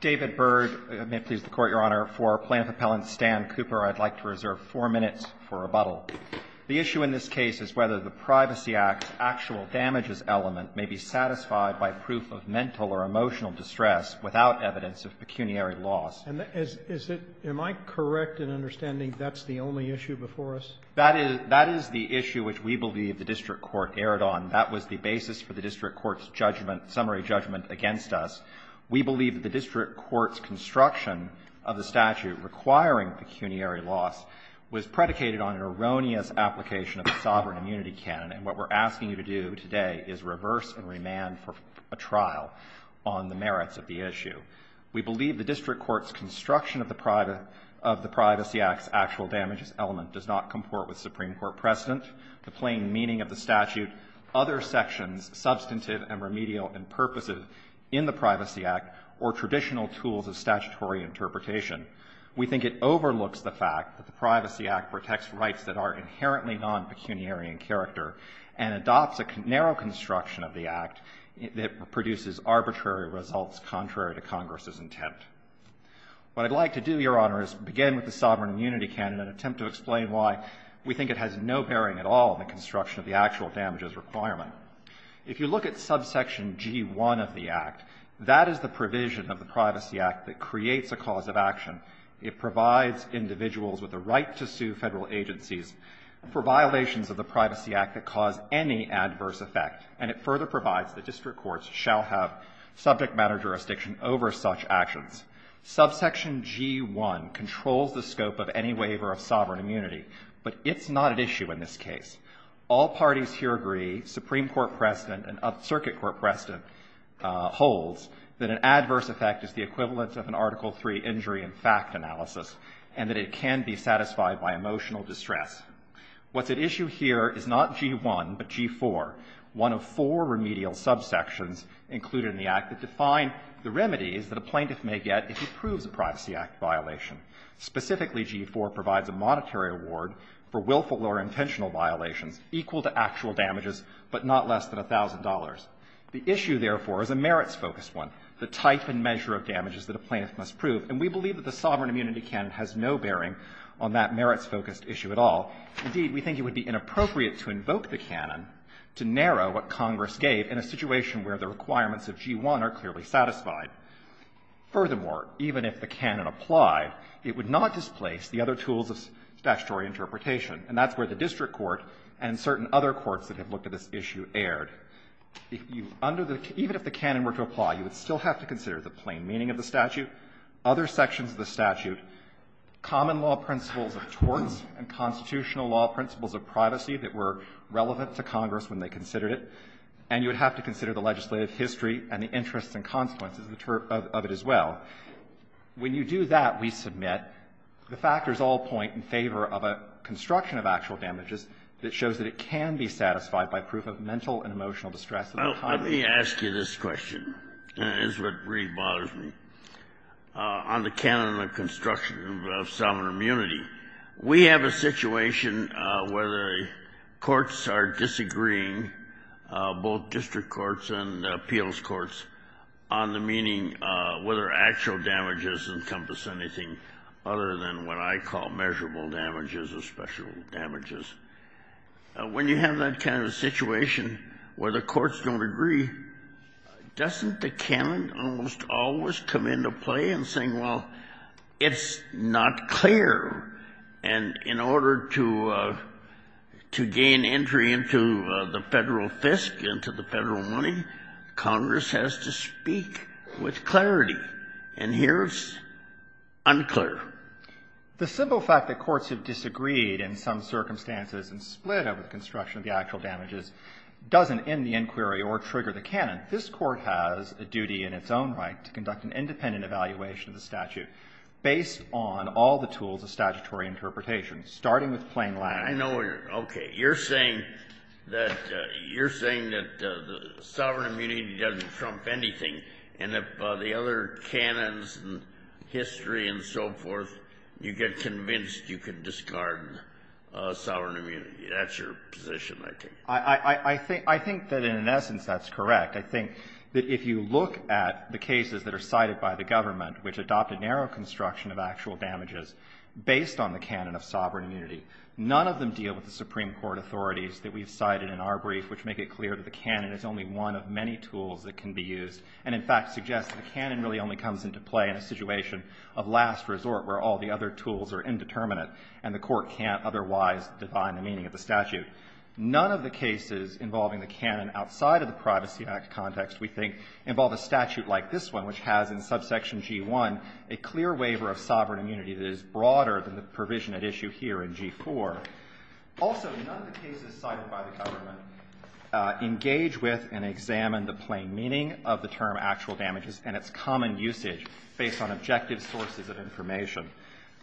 David Byrd May it please the Court, Your Honor. For Plaintiff Appellant Stan Cooper, I'd like to reserve four minutes for rebuttal. The issue in this case is whether the Privacy Act's actual damages element may be satisfied by proof of mental or emotional distress without evidence of pecuniary loss. Am I correct in understanding that's the only issue before us? That is the issue which we believe the District Court erred on. That was the basis for the District Court's summary judgment against us. We believe that the District Court's construction of the statute requiring pecuniary loss was predicated on an erroneous application of the sovereign immunity canon, and what we're asking you to do today is reverse and remand for a trial on the merits of the issue. We believe the District Court's construction of the Privacy Act's actual damages element does not comport with Supreme Court precedent. The plain meaning of the statute, other sections substantive and remedial and purposive in the Privacy Act, or traditional tools of statutory interpretation. We think it overlooks the fact that the Privacy Act protects rights that are inherently non-pecuniary in character and adopts a narrow construction of the Act that produces arbitrary results contrary to Congress's intent. What I'd like to do, Your Honor, is begin with the sovereign immunity canon and attempt to explain why we think it has no bearing at all in the construction of the actual damages requirement. If you look at subsection G1 of the Act, that is the provision of the Privacy Act that creates a cause of action. It provides individuals with a right to sue Federal agencies for violations of the Privacy Act that cause any adverse effect, and it further provides that District Courts shall have subject matter jurisdiction over such actions. Subsection G1 controls the scope of any waiver of sovereign immunity, but it's not at issue in this case. All parties here agree, Supreme Court precedent and Circuit Court precedent holds, that an adverse effect is the equivalent of an Article III injury and fact analysis, and that it can be satisfied by emotional distress. What's at issue here is not G1, but G4, one of four remedial subsections included in the Act that define the remedies that a plaintiff may get if he or she fails to prove a Privacy Act violation. Specifically, G4 provides a monetary award for willful or intentional violations equal to actual damages, but not less than $1,000. The issue, therefore, is a merits-focused one, the type and measure of damages that a plaintiff must prove, and we believe that the sovereign immunity canon has no bearing on that merits-focused issue at all. Indeed, we think it would be inappropriate to invoke the canon to narrow what Congress gave in a situation where the requirements of G1 are clearly satisfied. Furthermore, even if the canon applied, it would not displace the other tools of statutory interpretation, and that's where the district court and certain other courts that have looked at this issue erred. If you under the can – even if the canon were to apply, you would still have to consider the plain meaning of the statute, other sections of the statute, common law principles of torts and constitutional law principles of privacy that were relevant to Congress when they considered it, and you would have to consider the legislative history and the interests and consequences of it as well. When you do that, we submit, the factors all point in favor of a construction of actual damages that shows that it can be satisfied by proof of mental and emotional distress. Kennedy. Let me ask you this question. It's what really bothers me. On the canon of construction of sovereign immunity, we have a situation where the courts, on the meaning whether actual damages encompass anything other than what I call measurable damages or special damages. When you have that kind of situation where the courts don't agree, doesn't the canon almost always come into play in saying, well, it's not clear, and in order to gain entry into the Federal FISC, into the Federal money, Congress has to speak with clarity. And here it's unclear. The simple fact that courts have disagreed in some circumstances and split over the construction of the actual damages doesn't end the inquiry or trigger the canon. This Court has a duty in its own right to conduct an independent evaluation of the statute based on all the tools of statutory interpretation, starting with plain language. I know where you're going. Okay. You're saying that the sovereign immunity doesn't trump anything, and if the other canons and history and so forth, you get convinced you can discard sovereign immunity. That's your position, I think. I think that in essence that's correct. I think that if you look at the cases that are cited by the government, which adopted narrow construction of actual damages based on the canon of sovereign immunity, none of them deal with the Supreme Court authorities that we've cited in our brief, which make it clear that the canon is only one of many tools that can be used, and in fact suggest that the canon really only comes into play in a situation of last resort where all the other tools are indeterminate and the Court can't otherwise define the meaning of the statute. None of the cases involving the canon outside of the Privacy Act context, we think, involve a statute like this one, which has in subsection G-1 a clear waiver of sovereign immunity that is broader than the provision at issue here in G-4. Also, none of the cases cited by the government engage with and examine the plain meaning of the term actual damages and its common usage based on objective sources of information.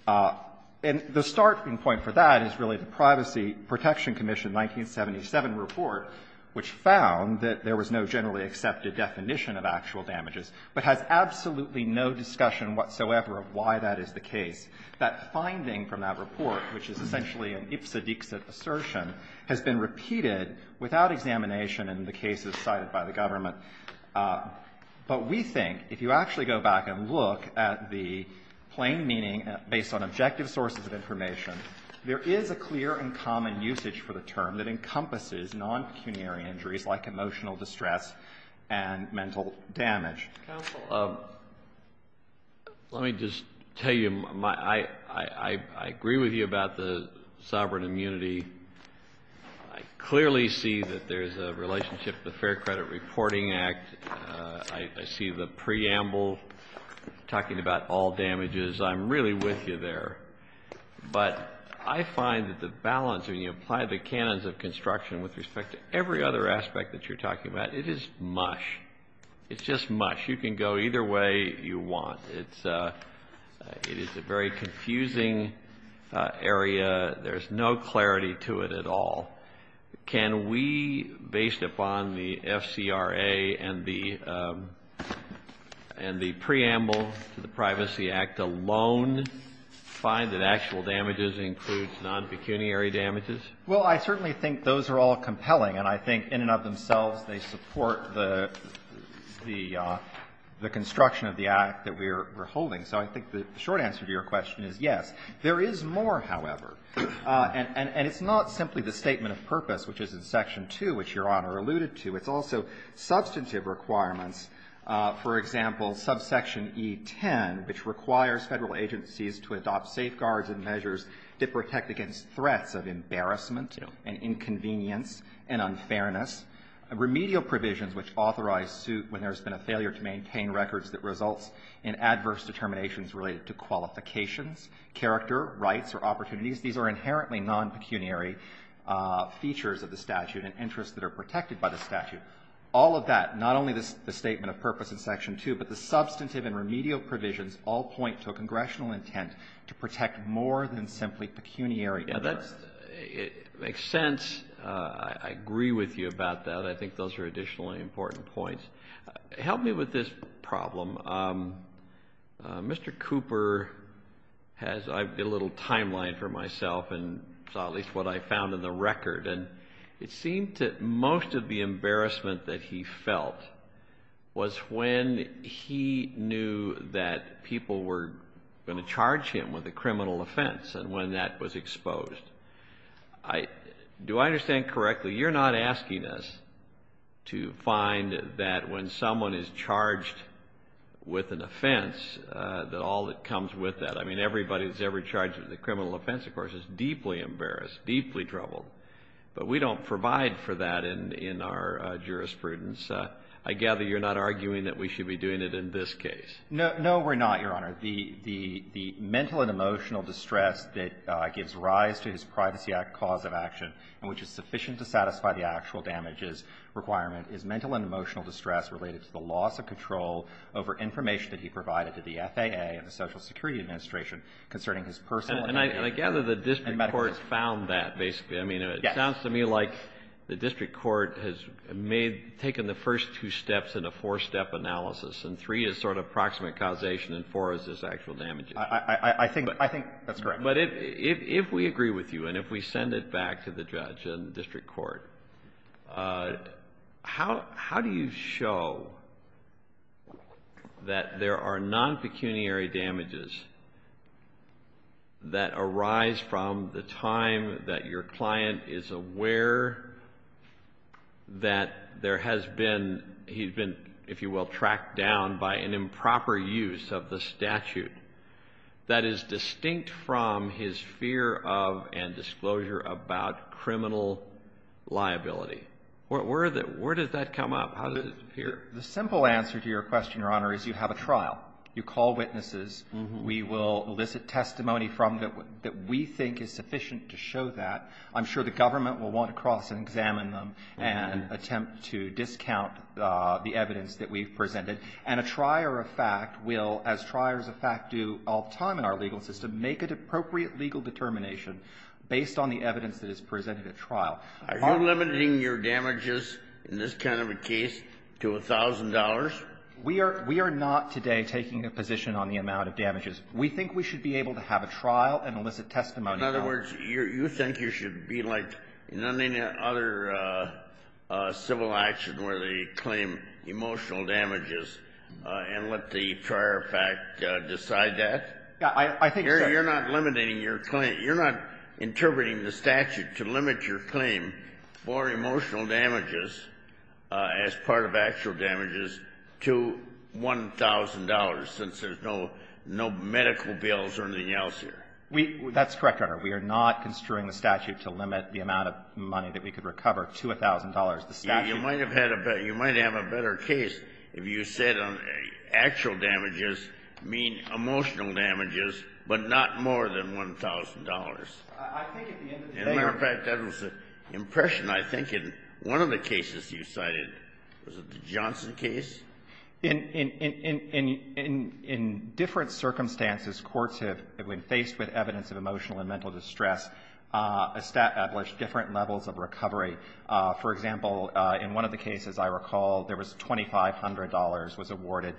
And the starting point for that is really the Privacy Protection Commission 1977 report, which found that there was no generally accepted definition of actual damages, but has absolutely no discussion whatsoever of why that is the case. That finding from that report, which is essentially an ipsa dixa assertion, has been repeated without examination in the cases cited by the government. But we think if you actually go back and look at the plain meaning based on objective sources of information, there is a clear and common usage for the term that encompasses non-pecuniary injuries like emotional distress and mental damage. Kennedy. Counsel, let me just tell you, I agree with you about the sovereign immunity. I clearly see that there's a relationship with the Fair Credit Reporting Act. I see the preamble talking about all damages. I'm really with you there. But I find that the balance when you apply the canons of construction with respect to every other aspect that you're talking about, it is mush. It's just mush. You can go either way you want. It is a very confusing area. There's no clarity to it at all. Can we, based upon the FCRA and the preamble to the Privacy Act alone, find that actual damages includes non-pecuniary damages? Well, I certainly think those are all compelling. And I think in and of themselves they support the construction of the Act that we're holding. So I think the short answer to your question is yes. There is more, however. And it's not simply the statement of purpose, which is in Section 2, which Your Honor alluded to. It's also substantive requirements. For example, subsection E10, which requires Federal agencies to adopt safeguards and measures that protect against threats of embarrassment and inconvenience and unfairness. Remedial provisions which authorize suit when there's been a failure to maintain records that results in adverse determinations related to qualifications, character, rights or opportunities. These are inherently non-pecuniary features of the statute and interests that are protected by the statute. All of that, not only the statement of purpose in Section 2, but the substantive and remedial provisions all point to a congressional intent to protect more than simply pecuniary. Now, that makes sense. I agree with you about that. I think those are additionally important points. Help me with this problem. Mr. Cooper has a little timeline for myself and at least what I found in the record. And it seemed that most of the embarrassment that he felt was when he knew that people were going to charge him with a criminal offense and when that was exposed. Do I understand correctly, you're not asking us to find that when someone is charged with an offense, that all that comes with that? I mean, everybody that's ever charged with a criminal offense, of course, is deeply embarrassed, deeply troubled. But we don't provide for that in our jurisprudence. I gather you're not arguing that we should be doing it in this case. No, we're not, Your Honor. The mental and emotional distress that gives rise to his privacy cause of action and which is sufficient to satisfy the actual damages requirement is mental and emotional distress related to the loss of control over information that he provided to the FAA and the Social Security Administration concerning his personal and medical care. And I gather the district court found that basically. Yes. I mean, it sounds to me like the district court has taken the first two steps in a four-step analysis and three is sort of proximate causation and four is his actual damages. I think that's correct. But if we agree with you and if we send it back to the judge and the district court, how do you show that there are non-pecuniary damages that arise from the time that your client is aware that there has been, he's been, if you will, tracked down by an improper use of the statute that is distinct from his fear of and disclosure about criminal liability? Where does that come up? How does it appear? The simple answer to your question, Your Honor, is you have a trial. You call witnesses. We will elicit testimony from them that we think is sufficient to show that. I'm sure the government will want to cross and examine them and attempt to discount the evidence that we've presented. And a trier of fact will, as triers of fact do all the time in our legal system, make an appropriate legal determination based on the evidence that is presented at trial. Are you limiting your damages in this kind of a case to $1,000? We are not today taking a position on the amount of damages. We think we should be able to have a trial and elicit testimony. In other words, you think you should be like in any other civil action where they claim emotional damages and let the trier of fact decide that? I think so. You're not limiting your claim. You're not interpreting the statute to limit your claim for emotional damages as part of actual damages to $1,000 since there's no medical bills or anything else here. That's correct, Your Honor. We are not construing the statute to limit the amount of money that we could recover to $1,000. You might have had a better – you might have a better case if you said actual damages mean emotional damages but not more than $1,000. I think at the end of the day – As a matter of fact, that was the impression I think in one of the cases you cited. Was it the Johnson case? In different circumstances, courts have, when faced with evidence of emotional and mental distress, established different levels of recovery. For example, in one of the cases I recall, there was $2,500 was awarded.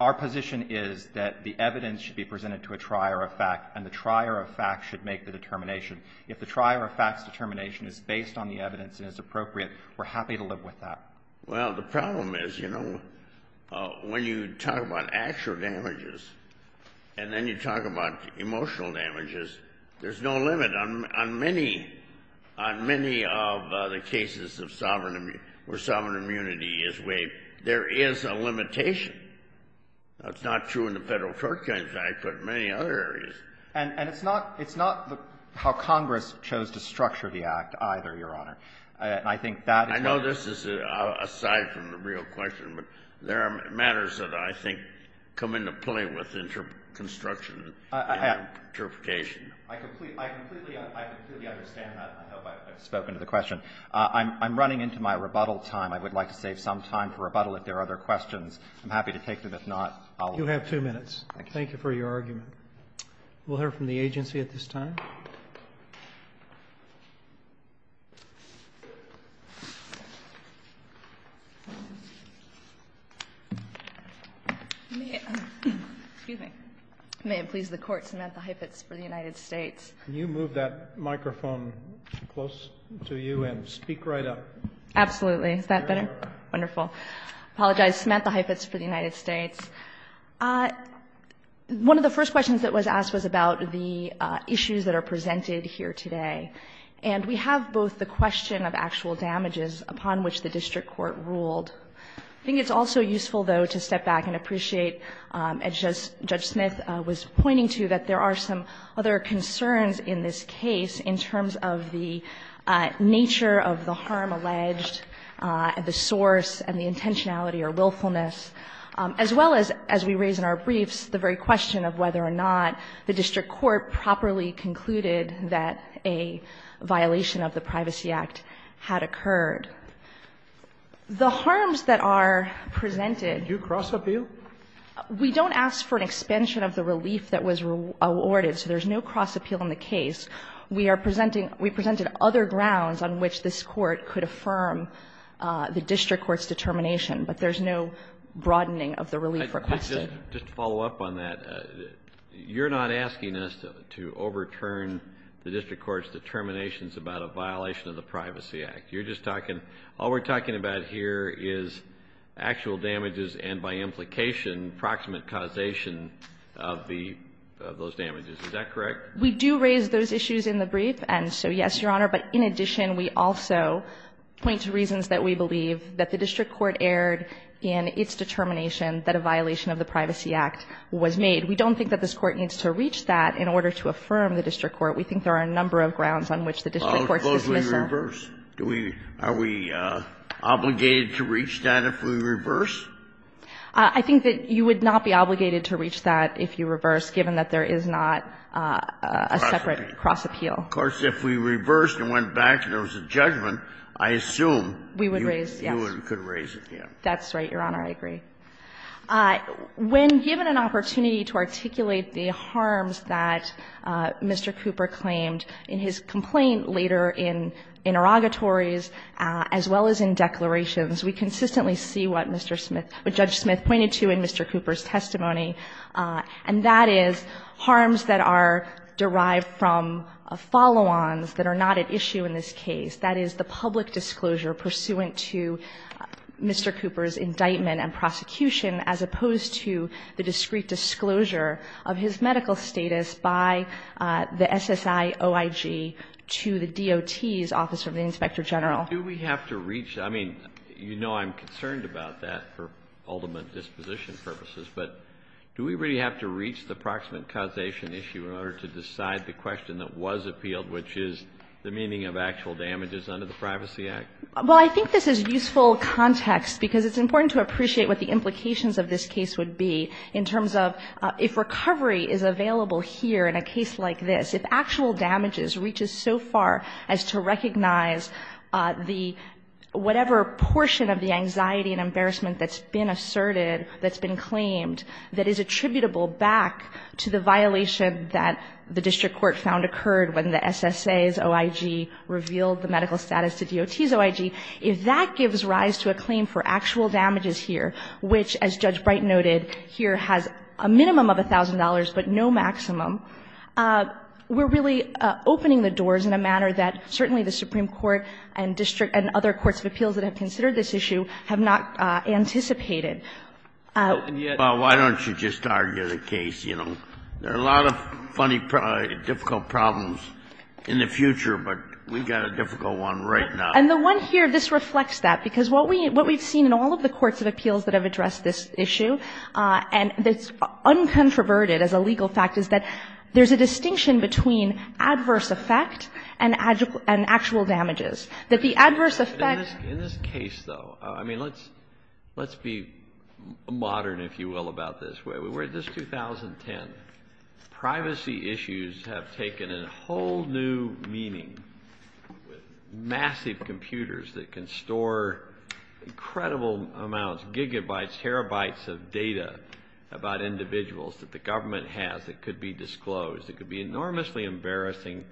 Our position is that the evidence should be presented to a trier of fact, and the trier of fact should make the determination. If the trier of fact's determination is based on the evidence and is appropriate, we're happy to live with that. Well, the problem is, you know, when you talk about actual damages and then you talk about emotional damages, there's no limit. On many – on many of the cases of sovereign – where sovereign immunity is waived, there is a limitation. That's not true in the Federal Court Claims Act but in many other areas. And it's not – it's not how Congress chose to structure the Act either, Your Honor. And I think that is why – I know this is aside from the real question, but there are matters that I think come into play with construction and justification. I completely – I completely understand that. I hope I've spoken to the question. I'm running into my rebuttal time. I would like to save some time for rebuttal if there are other questions. I'm happy to take them. If not, I'll leave. You have two minutes. Thank you for your argument. We'll hear from the agency at this time. May it please the Court, Samantha Heifetz for the United States. Can you move that microphone close to you and speak right up? Absolutely. Is that better? Wonderful. I apologize. Samantha Heifetz for the United States. One of the first questions that was asked was about the issues that are presented here today. And we have both the question of actual damages upon which the district court ruled. I think it's also useful, though, to step back and appreciate, as Judge Smith was pointing to, that there are some other concerns in this case in terms of the nature of the harm alleged and the source and the intentionality or willfulness, as well as, as we raise in our briefs, the very question of whether or not the district court properly concluded that a violation of the Privacy Act had occurred. The harms that are presented — Do you cross-appeal? We don't ask for an expansion of the relief that was awarded, so there's no cross-appeal in the case. We are presenting — we presented other grounds on which this Court could affirm the district court's determination, but there's no broadening of the relief requested. Just to follow up on that, you're not asking us to overturn the district court's determinations about a violation of the Privacy Act. You're just talking — all we're talking about here is actual damages and, by implication, proximate causation of the — of those damages. Is that correct? We do raise those issues in the brief, and so, yes, Your Honor. But in addition, we also point to reasons that we believe that the district court erred in its determination that a violation of the Privacy Act was made. We don't think that this Court needs to reach that in order to affirm the district court. We think there are a number of grounds on which the district court's dismissal — Well, of course, we reverse. Do we — are we obligated to reach that if we reverse? I think that you would not be obligated to reach that if you reverse, given that there is not a separate cross-appeal. Of course, if we reversed and went back and there was a judgment, I assume — We would raise, yes. You could raise it, yes. That's right, Your Honor. I agree. When given an opportunity to articulate the harms that Mr. Cooper claimed in his complaint later in interrogatories, as well as in declarations, we consistently see what Mr. Smith — what Judge Smith pointed to in Mr. Cooper's testimony, and that is harms that are derived from follow-ons that are not at issue in this case. That is the public disclosure pursuant to Mr. Cooper's indictment and prosecution as opposed to the discrete disclosure of his medical status by the SSIOIG to the DOT's Office of the Inspector General. Do we have to reach — I mean, you know I'm concerned about that for ultimate disposition purposes, but do we really have to reach the proximate causation issue in order to decide the question that was appealed, which is the meaning of actual damages under the Privacy Act? Well, I think this is useful context because it's important to appreciate what the implications of this case would be in terms of if recovery is available here in a case like this, if actual damages reaches so far as to recognize the — whatever portion of the anxiety and embarrassment that's been asserted, that's been claimed, that is attributable back to the violation that the district court found occurred when the SSA's OIG revealed the medical status to DOT's OIG, if that gives rise to a claim for actual damages here, which, as Judge Bright noted, here has a minimum of $1,000 but no maximum, we're really opening the doors in a manner that certainly the Supreme Court and other courts of appeals that have considered this issue have not anticipated. Well, why don't you just argue the case? You know, there are a lot of funny, difficult problems in the future, but we've got a difficult one right now. And the one here, this reflects that, because what we've seen in all of the courts of appeals that have addressed this issue, and that's uncontroverted as a legal fact, is that there's a distinction between adverse effect and actual damages, that the adverse effect — In this case, though, I mean, let's be modern, if you will, about this. We're at this 2010. Privacy issues have taken a whole new meaning. Massive computers that can store incredible amounts, gigabytes, terabytes of data about individuals that the government has that could be disclosed. It could be enormously embarrassing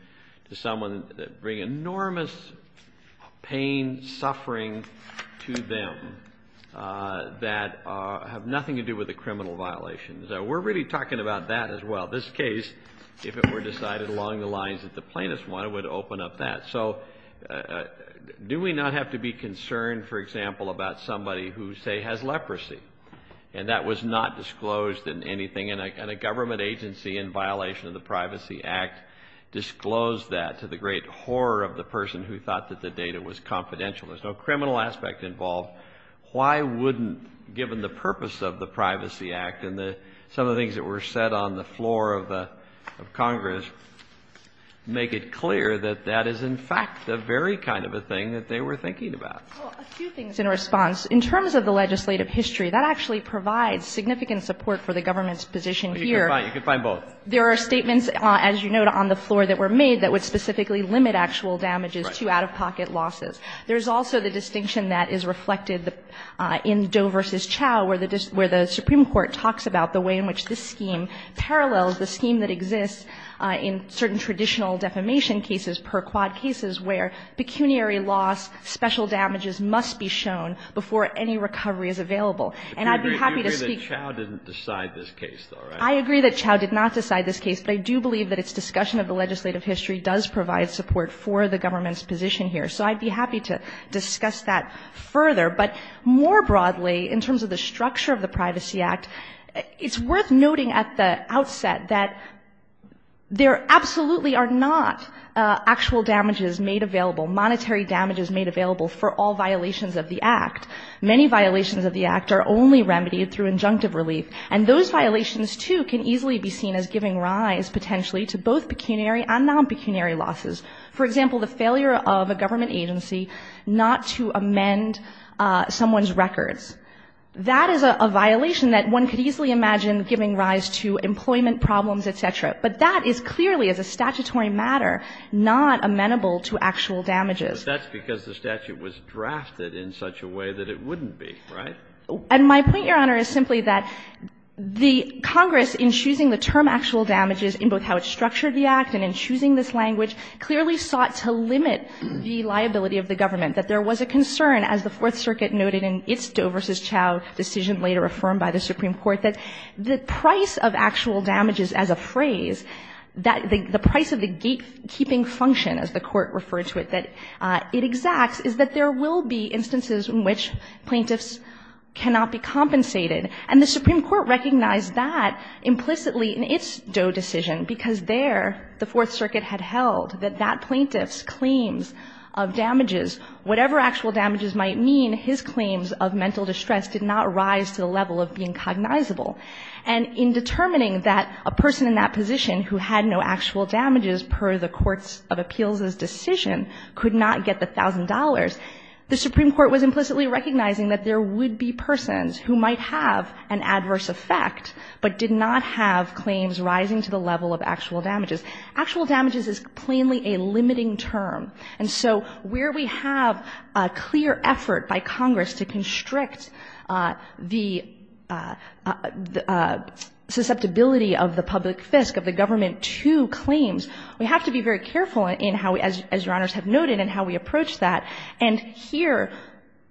to someone, bring enormous pain, suffering to them that have nothing to do with a criminal violation. So we're really talking about that as well. This case, if it were decided along the lines that the plaintiffs wanted, would open up that. So do we not have to be concerned, for example, about somebody who, say, has leprosy and that was not disclosed in anything, and a government agency in violation of the Privacy Act disclosed that to the great horror of the person who thought that the data was confidential? There's no criminal aspect involved. Why wouldn't, given the purpose of the Privacy Act and some of the things that were said on the floor of Congress, make it clear that that is, in fact, the very kind of a thing that they were thinking about? Well, a few things in response. In terms of the legislative history, that actually provides significant support for the government's position here. You can find both. There are statements, as you note, on the floor that were made that would specifically limit actual damages to out-of-pocket losses. There's also the distinction that is reflected in Doe v. Chau, where the Supreme Court talks about the way in which this scheme parallels the scheme that exists in certain traditional defamation cases per quad cases, where pecuniary loss, special damages must be shown before any recovery is available. And I'd be happy to speak to that. You agree that Chau didn't decide this case, though, right? I agree that Chau did not decide this case. But I do believe that its discussion of the legislative history does provide support for the government's position here. So I'd be happy to discuss that further. But more broadly, in terms of the structure of the Privacy Act, it's worth noting at the outset that there absolutely are not actual damages made available, monetary damages made available for all violations of the Act. Many violations of the Act are only remedied through injunctive relief. And those violations, too, can easily be seen as giving rise, potentially, to both pecuniary and non-pecuniary losses. For example, the failure of a government agency not to amend someone's records. That is a violation that one could easily imagine giving rise to employment problems, et cetera. But that is clearly, as a statutory matter, not amenable to actual damages. But that's because the statute was drafted in such a way that it wouldn't be, right? And my point, Your Honor, is simply that the Congress, in choosing the term actual damages in both how it structured the Act and in choosing this language, clearly sought to limit the liability of the government. That there was a concern, as the Fourth Circuit noted in its Doe v. Chau decision later affirmed by the Supreme Court, that the price of actual damages as a phrase, that the price of the gatekeeping function, as the Court referred to it, that it exacts, is that there will be instances in which plaintiffs cannot be compensated. And the Supreme Court recognized that implicitly in its Doe decision because there the Fourth Circuit had held that that plaintiff's claims of damages, whatever actual damages might mean, his claims of mental distress did not rise to the level of being cognizable. And in determining that a person in that position who had no actual damages per the courts of appeals' decision could not get the $1,000, the Supreme Court was implicitly recognizing that there would be persons who might have an adverse effect but did not have claims rising to the level of actual damages. Actual damages is plainly a limiting term. And so where we have a clear effort by Congress to constrict the, what we call the susceptibility of the public fisc, of the government to claims, we have to be very careful in how, as Your Honors have noted, in how we approach that. And here,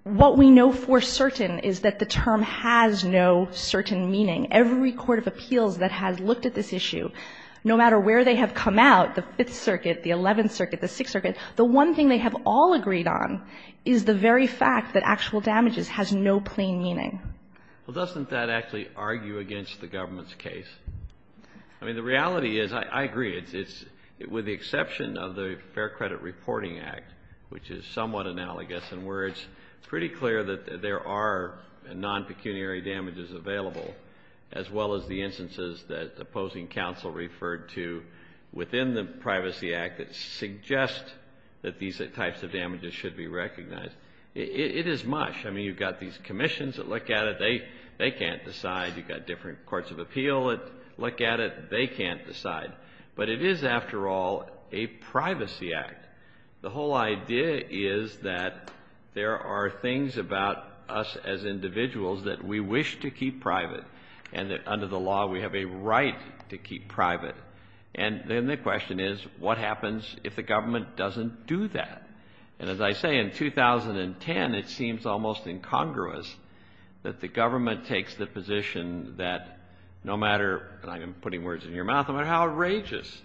what we know for certain is that the term has no certain meaning. Every court of appeals that has looked at this issue, no matter where they have come out, the Fifth Circuit, the Eleventh Circuit, the Sixth Circuit, the one thing they have all agreed on is the very fact that actual damages has no plain meaning. Well, doesn't that actually argue against the government's case? I mean, the reality is, I agree, it's, with the exception of the Fair Credit Reporting Act, which is somewhat analogous in where it's pretty clear that there are non-pecuniary damages available, as well as the instances that opposing counsel referred to within the Privacy Act that suggest that these types of damages should be recognized. It is much. I mean, you've got these commissions that look at it, they can't decide. You've got different courts of appeal that look at it, they can't decide. But it is, after all, a Privacy Act. The whole idea is that there are things about us as individuals that we wish to keep private, and that under the law we have a right to keep private. And then the question is, what happens if the government doesn't do that? And as I say, in 2010 it seems almost incongruous that the government takes the position that no matter, and I'm putting words in your mouth, no matter how outrageous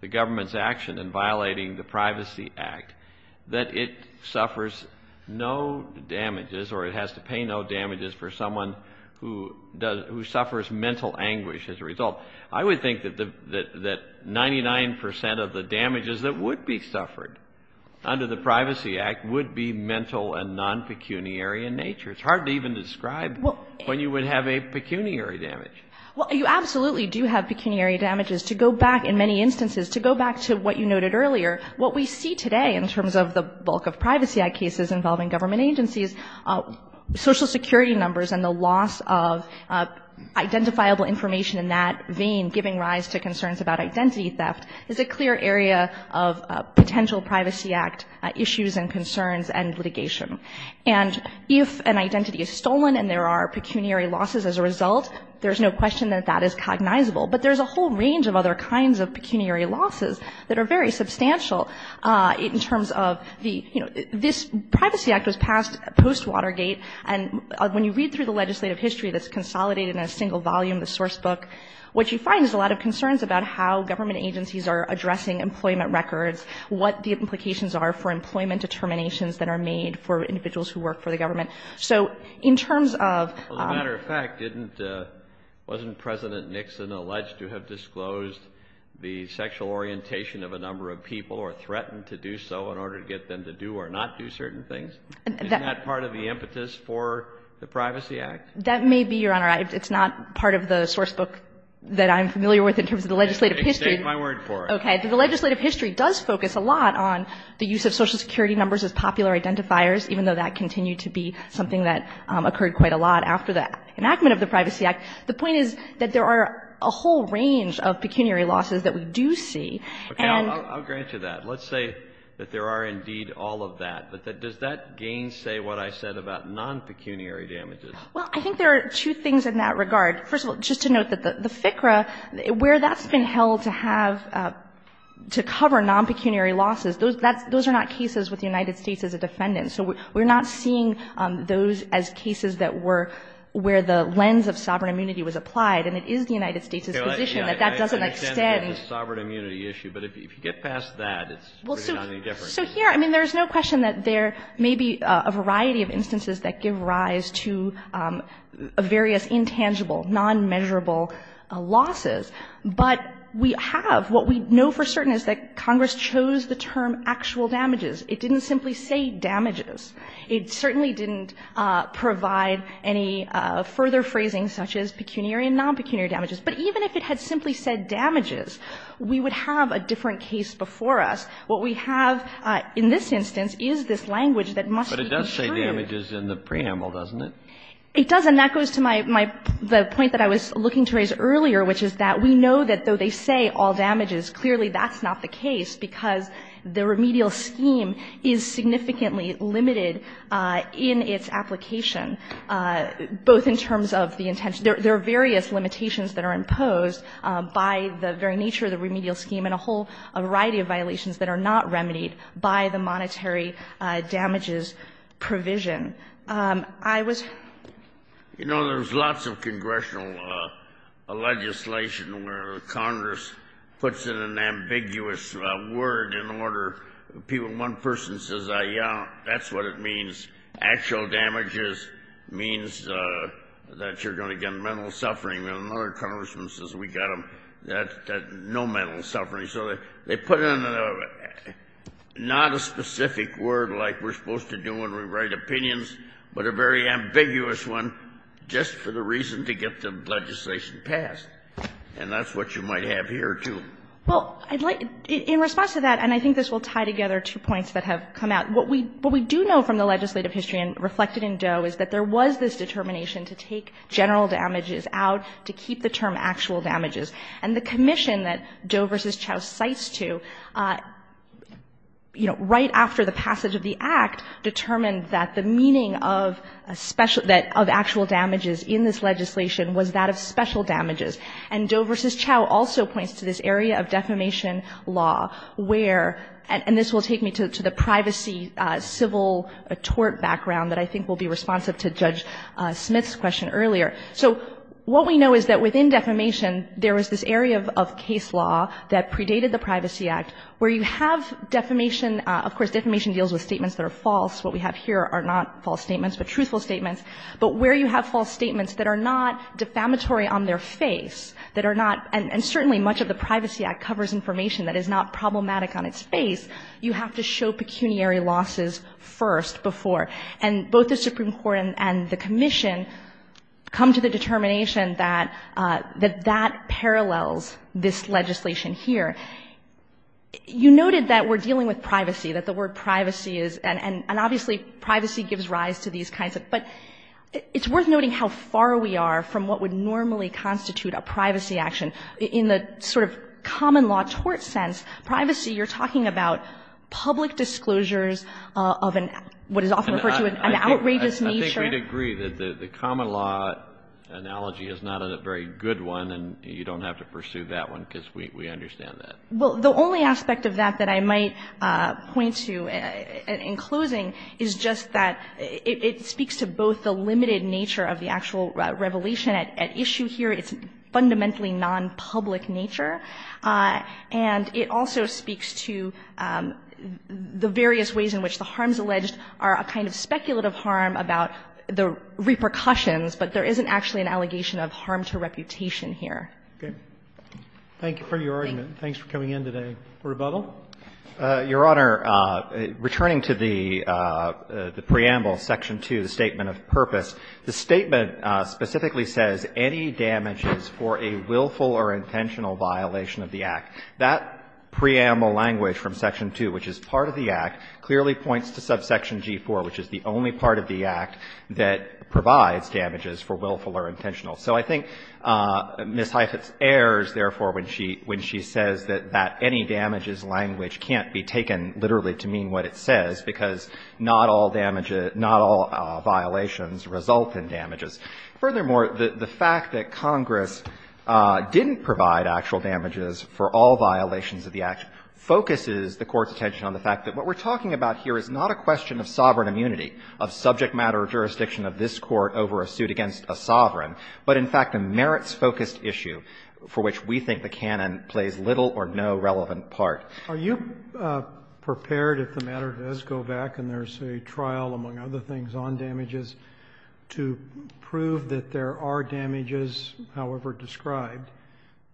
the government's action in violating the Privacy Act, that it suffers no damages or it has to pay no damages for someone who suffers mental anguish as a result. I would think that 99 percent of the damages that would be suffered under the Privacy Act would be mental and non-pecuniary in nature. It's hard to even describe when you would have a pecuniary damage. Well, you absolutely do have pecuniary damages. To go back in many instances, to go back to what you noted earlier, what we see today in terms of the bulk of Privacy Act cases involving government agencies, social security numbers and the loss of identifiable information in that vein, giving rise to concerns about identity theft, is a clear area of potential Privacy Act issues and concerns and litigation. And if an identity is stolen and there are pecuniary losses as a result, there's no question that that is cognizable. But there's a whole range of other kinds of pecuniary losses that are very substantial in terms of the, you know, this Privacy Act was passed post-Watergate, and when you read through the legislative history that's consolidated in a single volume, the source book, what you find is a lot of concerns about how government agencies are addressing employment records, what the implications are for employment determinations that are made for individuals who work for the government. So in terms of — Well, as a matter of fact, wasn't President Nixon alleged to have disclosed the sexual orientation of a number of people or threatened to do so in order to get them to do or not do certain things? Isn't that part of the impetus for the Privacy Act? That may be, Your Honor. It's not part of the source book that I'm familiar with in terms of the legislative history. Extend my word for it. Okay. The legislative history does focus a lot on the use of Social Security numbers as popular identifiers, even though that continued to be something that occurred quite a lot after the enactment of the Privacy Act. The point is that there are a whole range of pecuniary losses that we do see. Okay. I'll grant you that. Let's say that there are indeed all of that. But does that gainsay what I said about non-pecuniary damages? Well, I think there are two things in that regard. First of all, just to note that the FCRA, where that's been held to have — to cover non-pecuniary losses, those are not cases with the United States as a defendant. So we're not seeing those as cases that were — where the lens of sovereign immunity was applied, and it is the United States' position that that doesn't extend. It's a sovereign immunity issue. But if you get past that, it's really not any different. So here, I mean, there's no question that there may be a variety of instances that give rise to various intangible, non-measurable losses. But we have — what we know for certain is that Congress chose the term actual damages. It didn't simply say damages. It certainly didn't provide any further phrasing such as pecuniary and non-pecuniary damages. But even if it had simply said damages, we would have a different case before us. What we have in this instance is this language that must be described. Kennedy. But it does say damages in the preamble, doesn't it? It does. And that goes to my — the point that I was looking to raise earlier, which is that we know that though they say all damages, clearly that's not the case because the remedial scheme is significantly limited in its application, both in terms of the intention. There are various limitations that are imposed by the very nature of the remedial scheme and a whole variety of violations that are not remedied by the monetary damages provision. I was — You know, there's lots of congressional legislation where Congress puts in an ambiguous word in order — one person says, yeah, that's what it means. Actual damages means that you're going to get mental suffering. And another congressman says, we got them. That's no mental suffering. So they put in a — not a specific word like we're supposed to do when we write opinions, but a very ambiguous one just for the reason to get the legislation passed. And that's what you might have here, too. Well, I'd like — in response to that, and I think this will tie together two points that have come out. What we do know from the legislative history and reflected in Doe is that there was this determination to take general damages out to keep the term actual damages. And the commission that Doe v. Chau cites to, you know, right after the passage of the Act determined that the meaning of a special — that of actual damages in this legislation was that of special damages. And Doe v. Chau also points to this area of defamation law where — and this will take me to the privacy civil tort background that I think will be responsive to Judge Smith's question earlier. So what we know is that within defamation, there was this area of case law that predated the Privacy Act where you have defamation — of course, defamation deals with statements that are false. What we have here are not false statements but truthful statements. But where you have false statements that are not defamatory on their face, that are not — and certainly much of the Privacy Act covers information that is not defamatory, you have to show pecuniary losses first before. And both the Supreme Court and the commission come to the determination that that parallels this legislation here. You noted that we're dealing with privacy, that the word privacy is — and obviously privacy gives rise to these kinds of — but it's worth noting how far we are from what would normally constitute a privacy action. In the sort of common law tort sense, privacy, you're talking about public disclosures of an — what is often referred to as an outrageous nature. I think we'd agree that the common law analogy is not a very good one, and you don't have to pursue that one because we understand that. Well, the only aspect of that that I might point to in closing is just that it speaks to both the limited nature of the actual revelation at issue here. It's fundamentally nonpublic nature. And it also speaks to the various ways in which the harms alleged are a kind of speculative harm about the repercussions, but there isn't actually an allegation of harm to reputation here. Roberts. Thank you for your argument. Thanks for coming in today. Rebuttal? Your Honor, returning to the preamble, section 2, the statement of purpose, the statement specifically says any damages for a willful or intentional violation of the Act, that preamble language from section 2, which is part of the Act, clearly points to subsection G4, which is the only part of the Act that provides damages for willful or intentional. So I think Ms. Heifetz errs, therefore, when she says that that any damages language can't be taken literally to mean what it says, because not all damages, not all violations result in damages. Furthermore, the fact that Congress didn't provide actual damages for all violations of the Act focuses the Court's attention on the fact that what we're talking about here is not a question of sovereign immunity, of subject matter jurisdiction of this Court over a suit against a sovereign, but, in fact, a merits-focused issue for which we think the canon plays little or no relevant part. Are you prepared, if the matter does go back and there's a trial, among other things, on damages, to prove that there are damages, however described,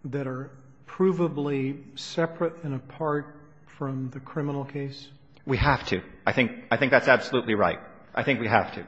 that are provably separate and apart from the criminal case? We have to. I think that's absolutely right. I think we have to.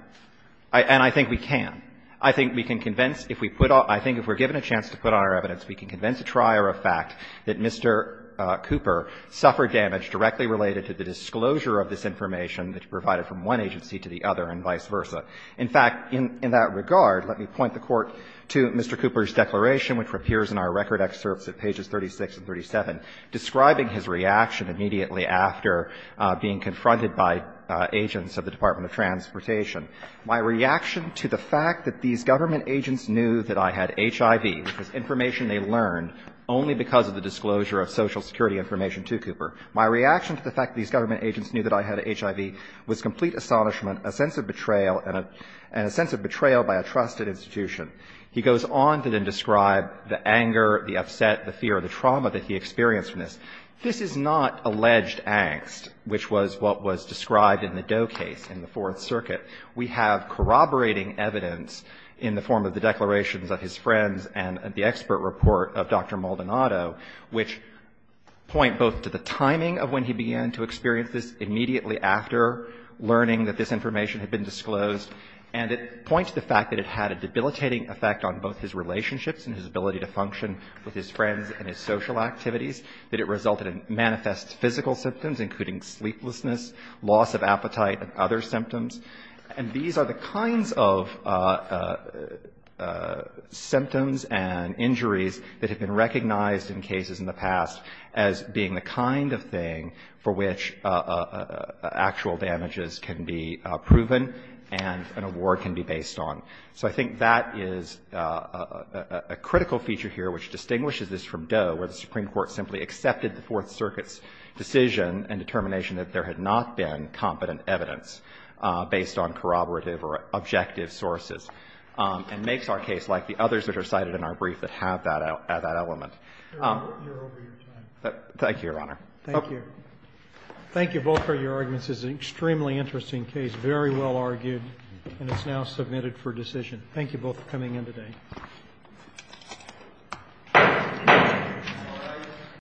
And I think we can. I think we can convince, if we put up – I think if we're given a chance to put on our evidence, we can convince a trier of fact that Mr. Cooper suffered damage directly related to the disclosure of this information that's provided from one agency to the other and vice versa. In fact, in that regard, let me point the Court to Mr. Cooper's declaration, which appears in our record excerpts at pages 36 and 37, describing his reaction immediately after being confronted by agents of the Department of Transportation. My reaction to the fact that these government agents knew that I had HIV, which was information they learned only because of the disclosure of Social Security information to Cooper, my reaction to the fact that these government agents knew that I had HIV was complete astonishment, a sense of betrayal, and a sense of betrayal by a trusted institution. He goes on to then describe the anger, the upset, the fear, the trauma that he experienced from this. This is not alleged angst, which was what was described in the Doe case in the Fourth Circuit. We have corroborating evidence in the form of the declarations of his friends and the expert report of Dr. Maldonado, which point both to the timing of when he began to experience this immediately after learning that this information had been disclosed and it points to the fact that it had a debilitating effect on both his relationships and his ability to function with his friends and his social activities, that it resulted in manifest physical symptoms, including sleeplessness, loss of appetite, and other symptoms. And these are the kinds of symptoms and injuries that have been recognized in cases in the past as being the kind of thing for which actual damages can be proven and an award can be based on. So I think that is a critical feature here which distinguishes this from Doe, where the Supreme Court simply accepted the Fourth Circuit's decision and determination that there had not been competent evidence based on corroborative or objective sources, and makes our case like the others that are cited in our brief that have that element. Thank you, Your Honor. Thank you. Thank you both for your arguments. This is an extremely interesting case, very well argued, and it's now submitted for decision. Thank you both for coming in today.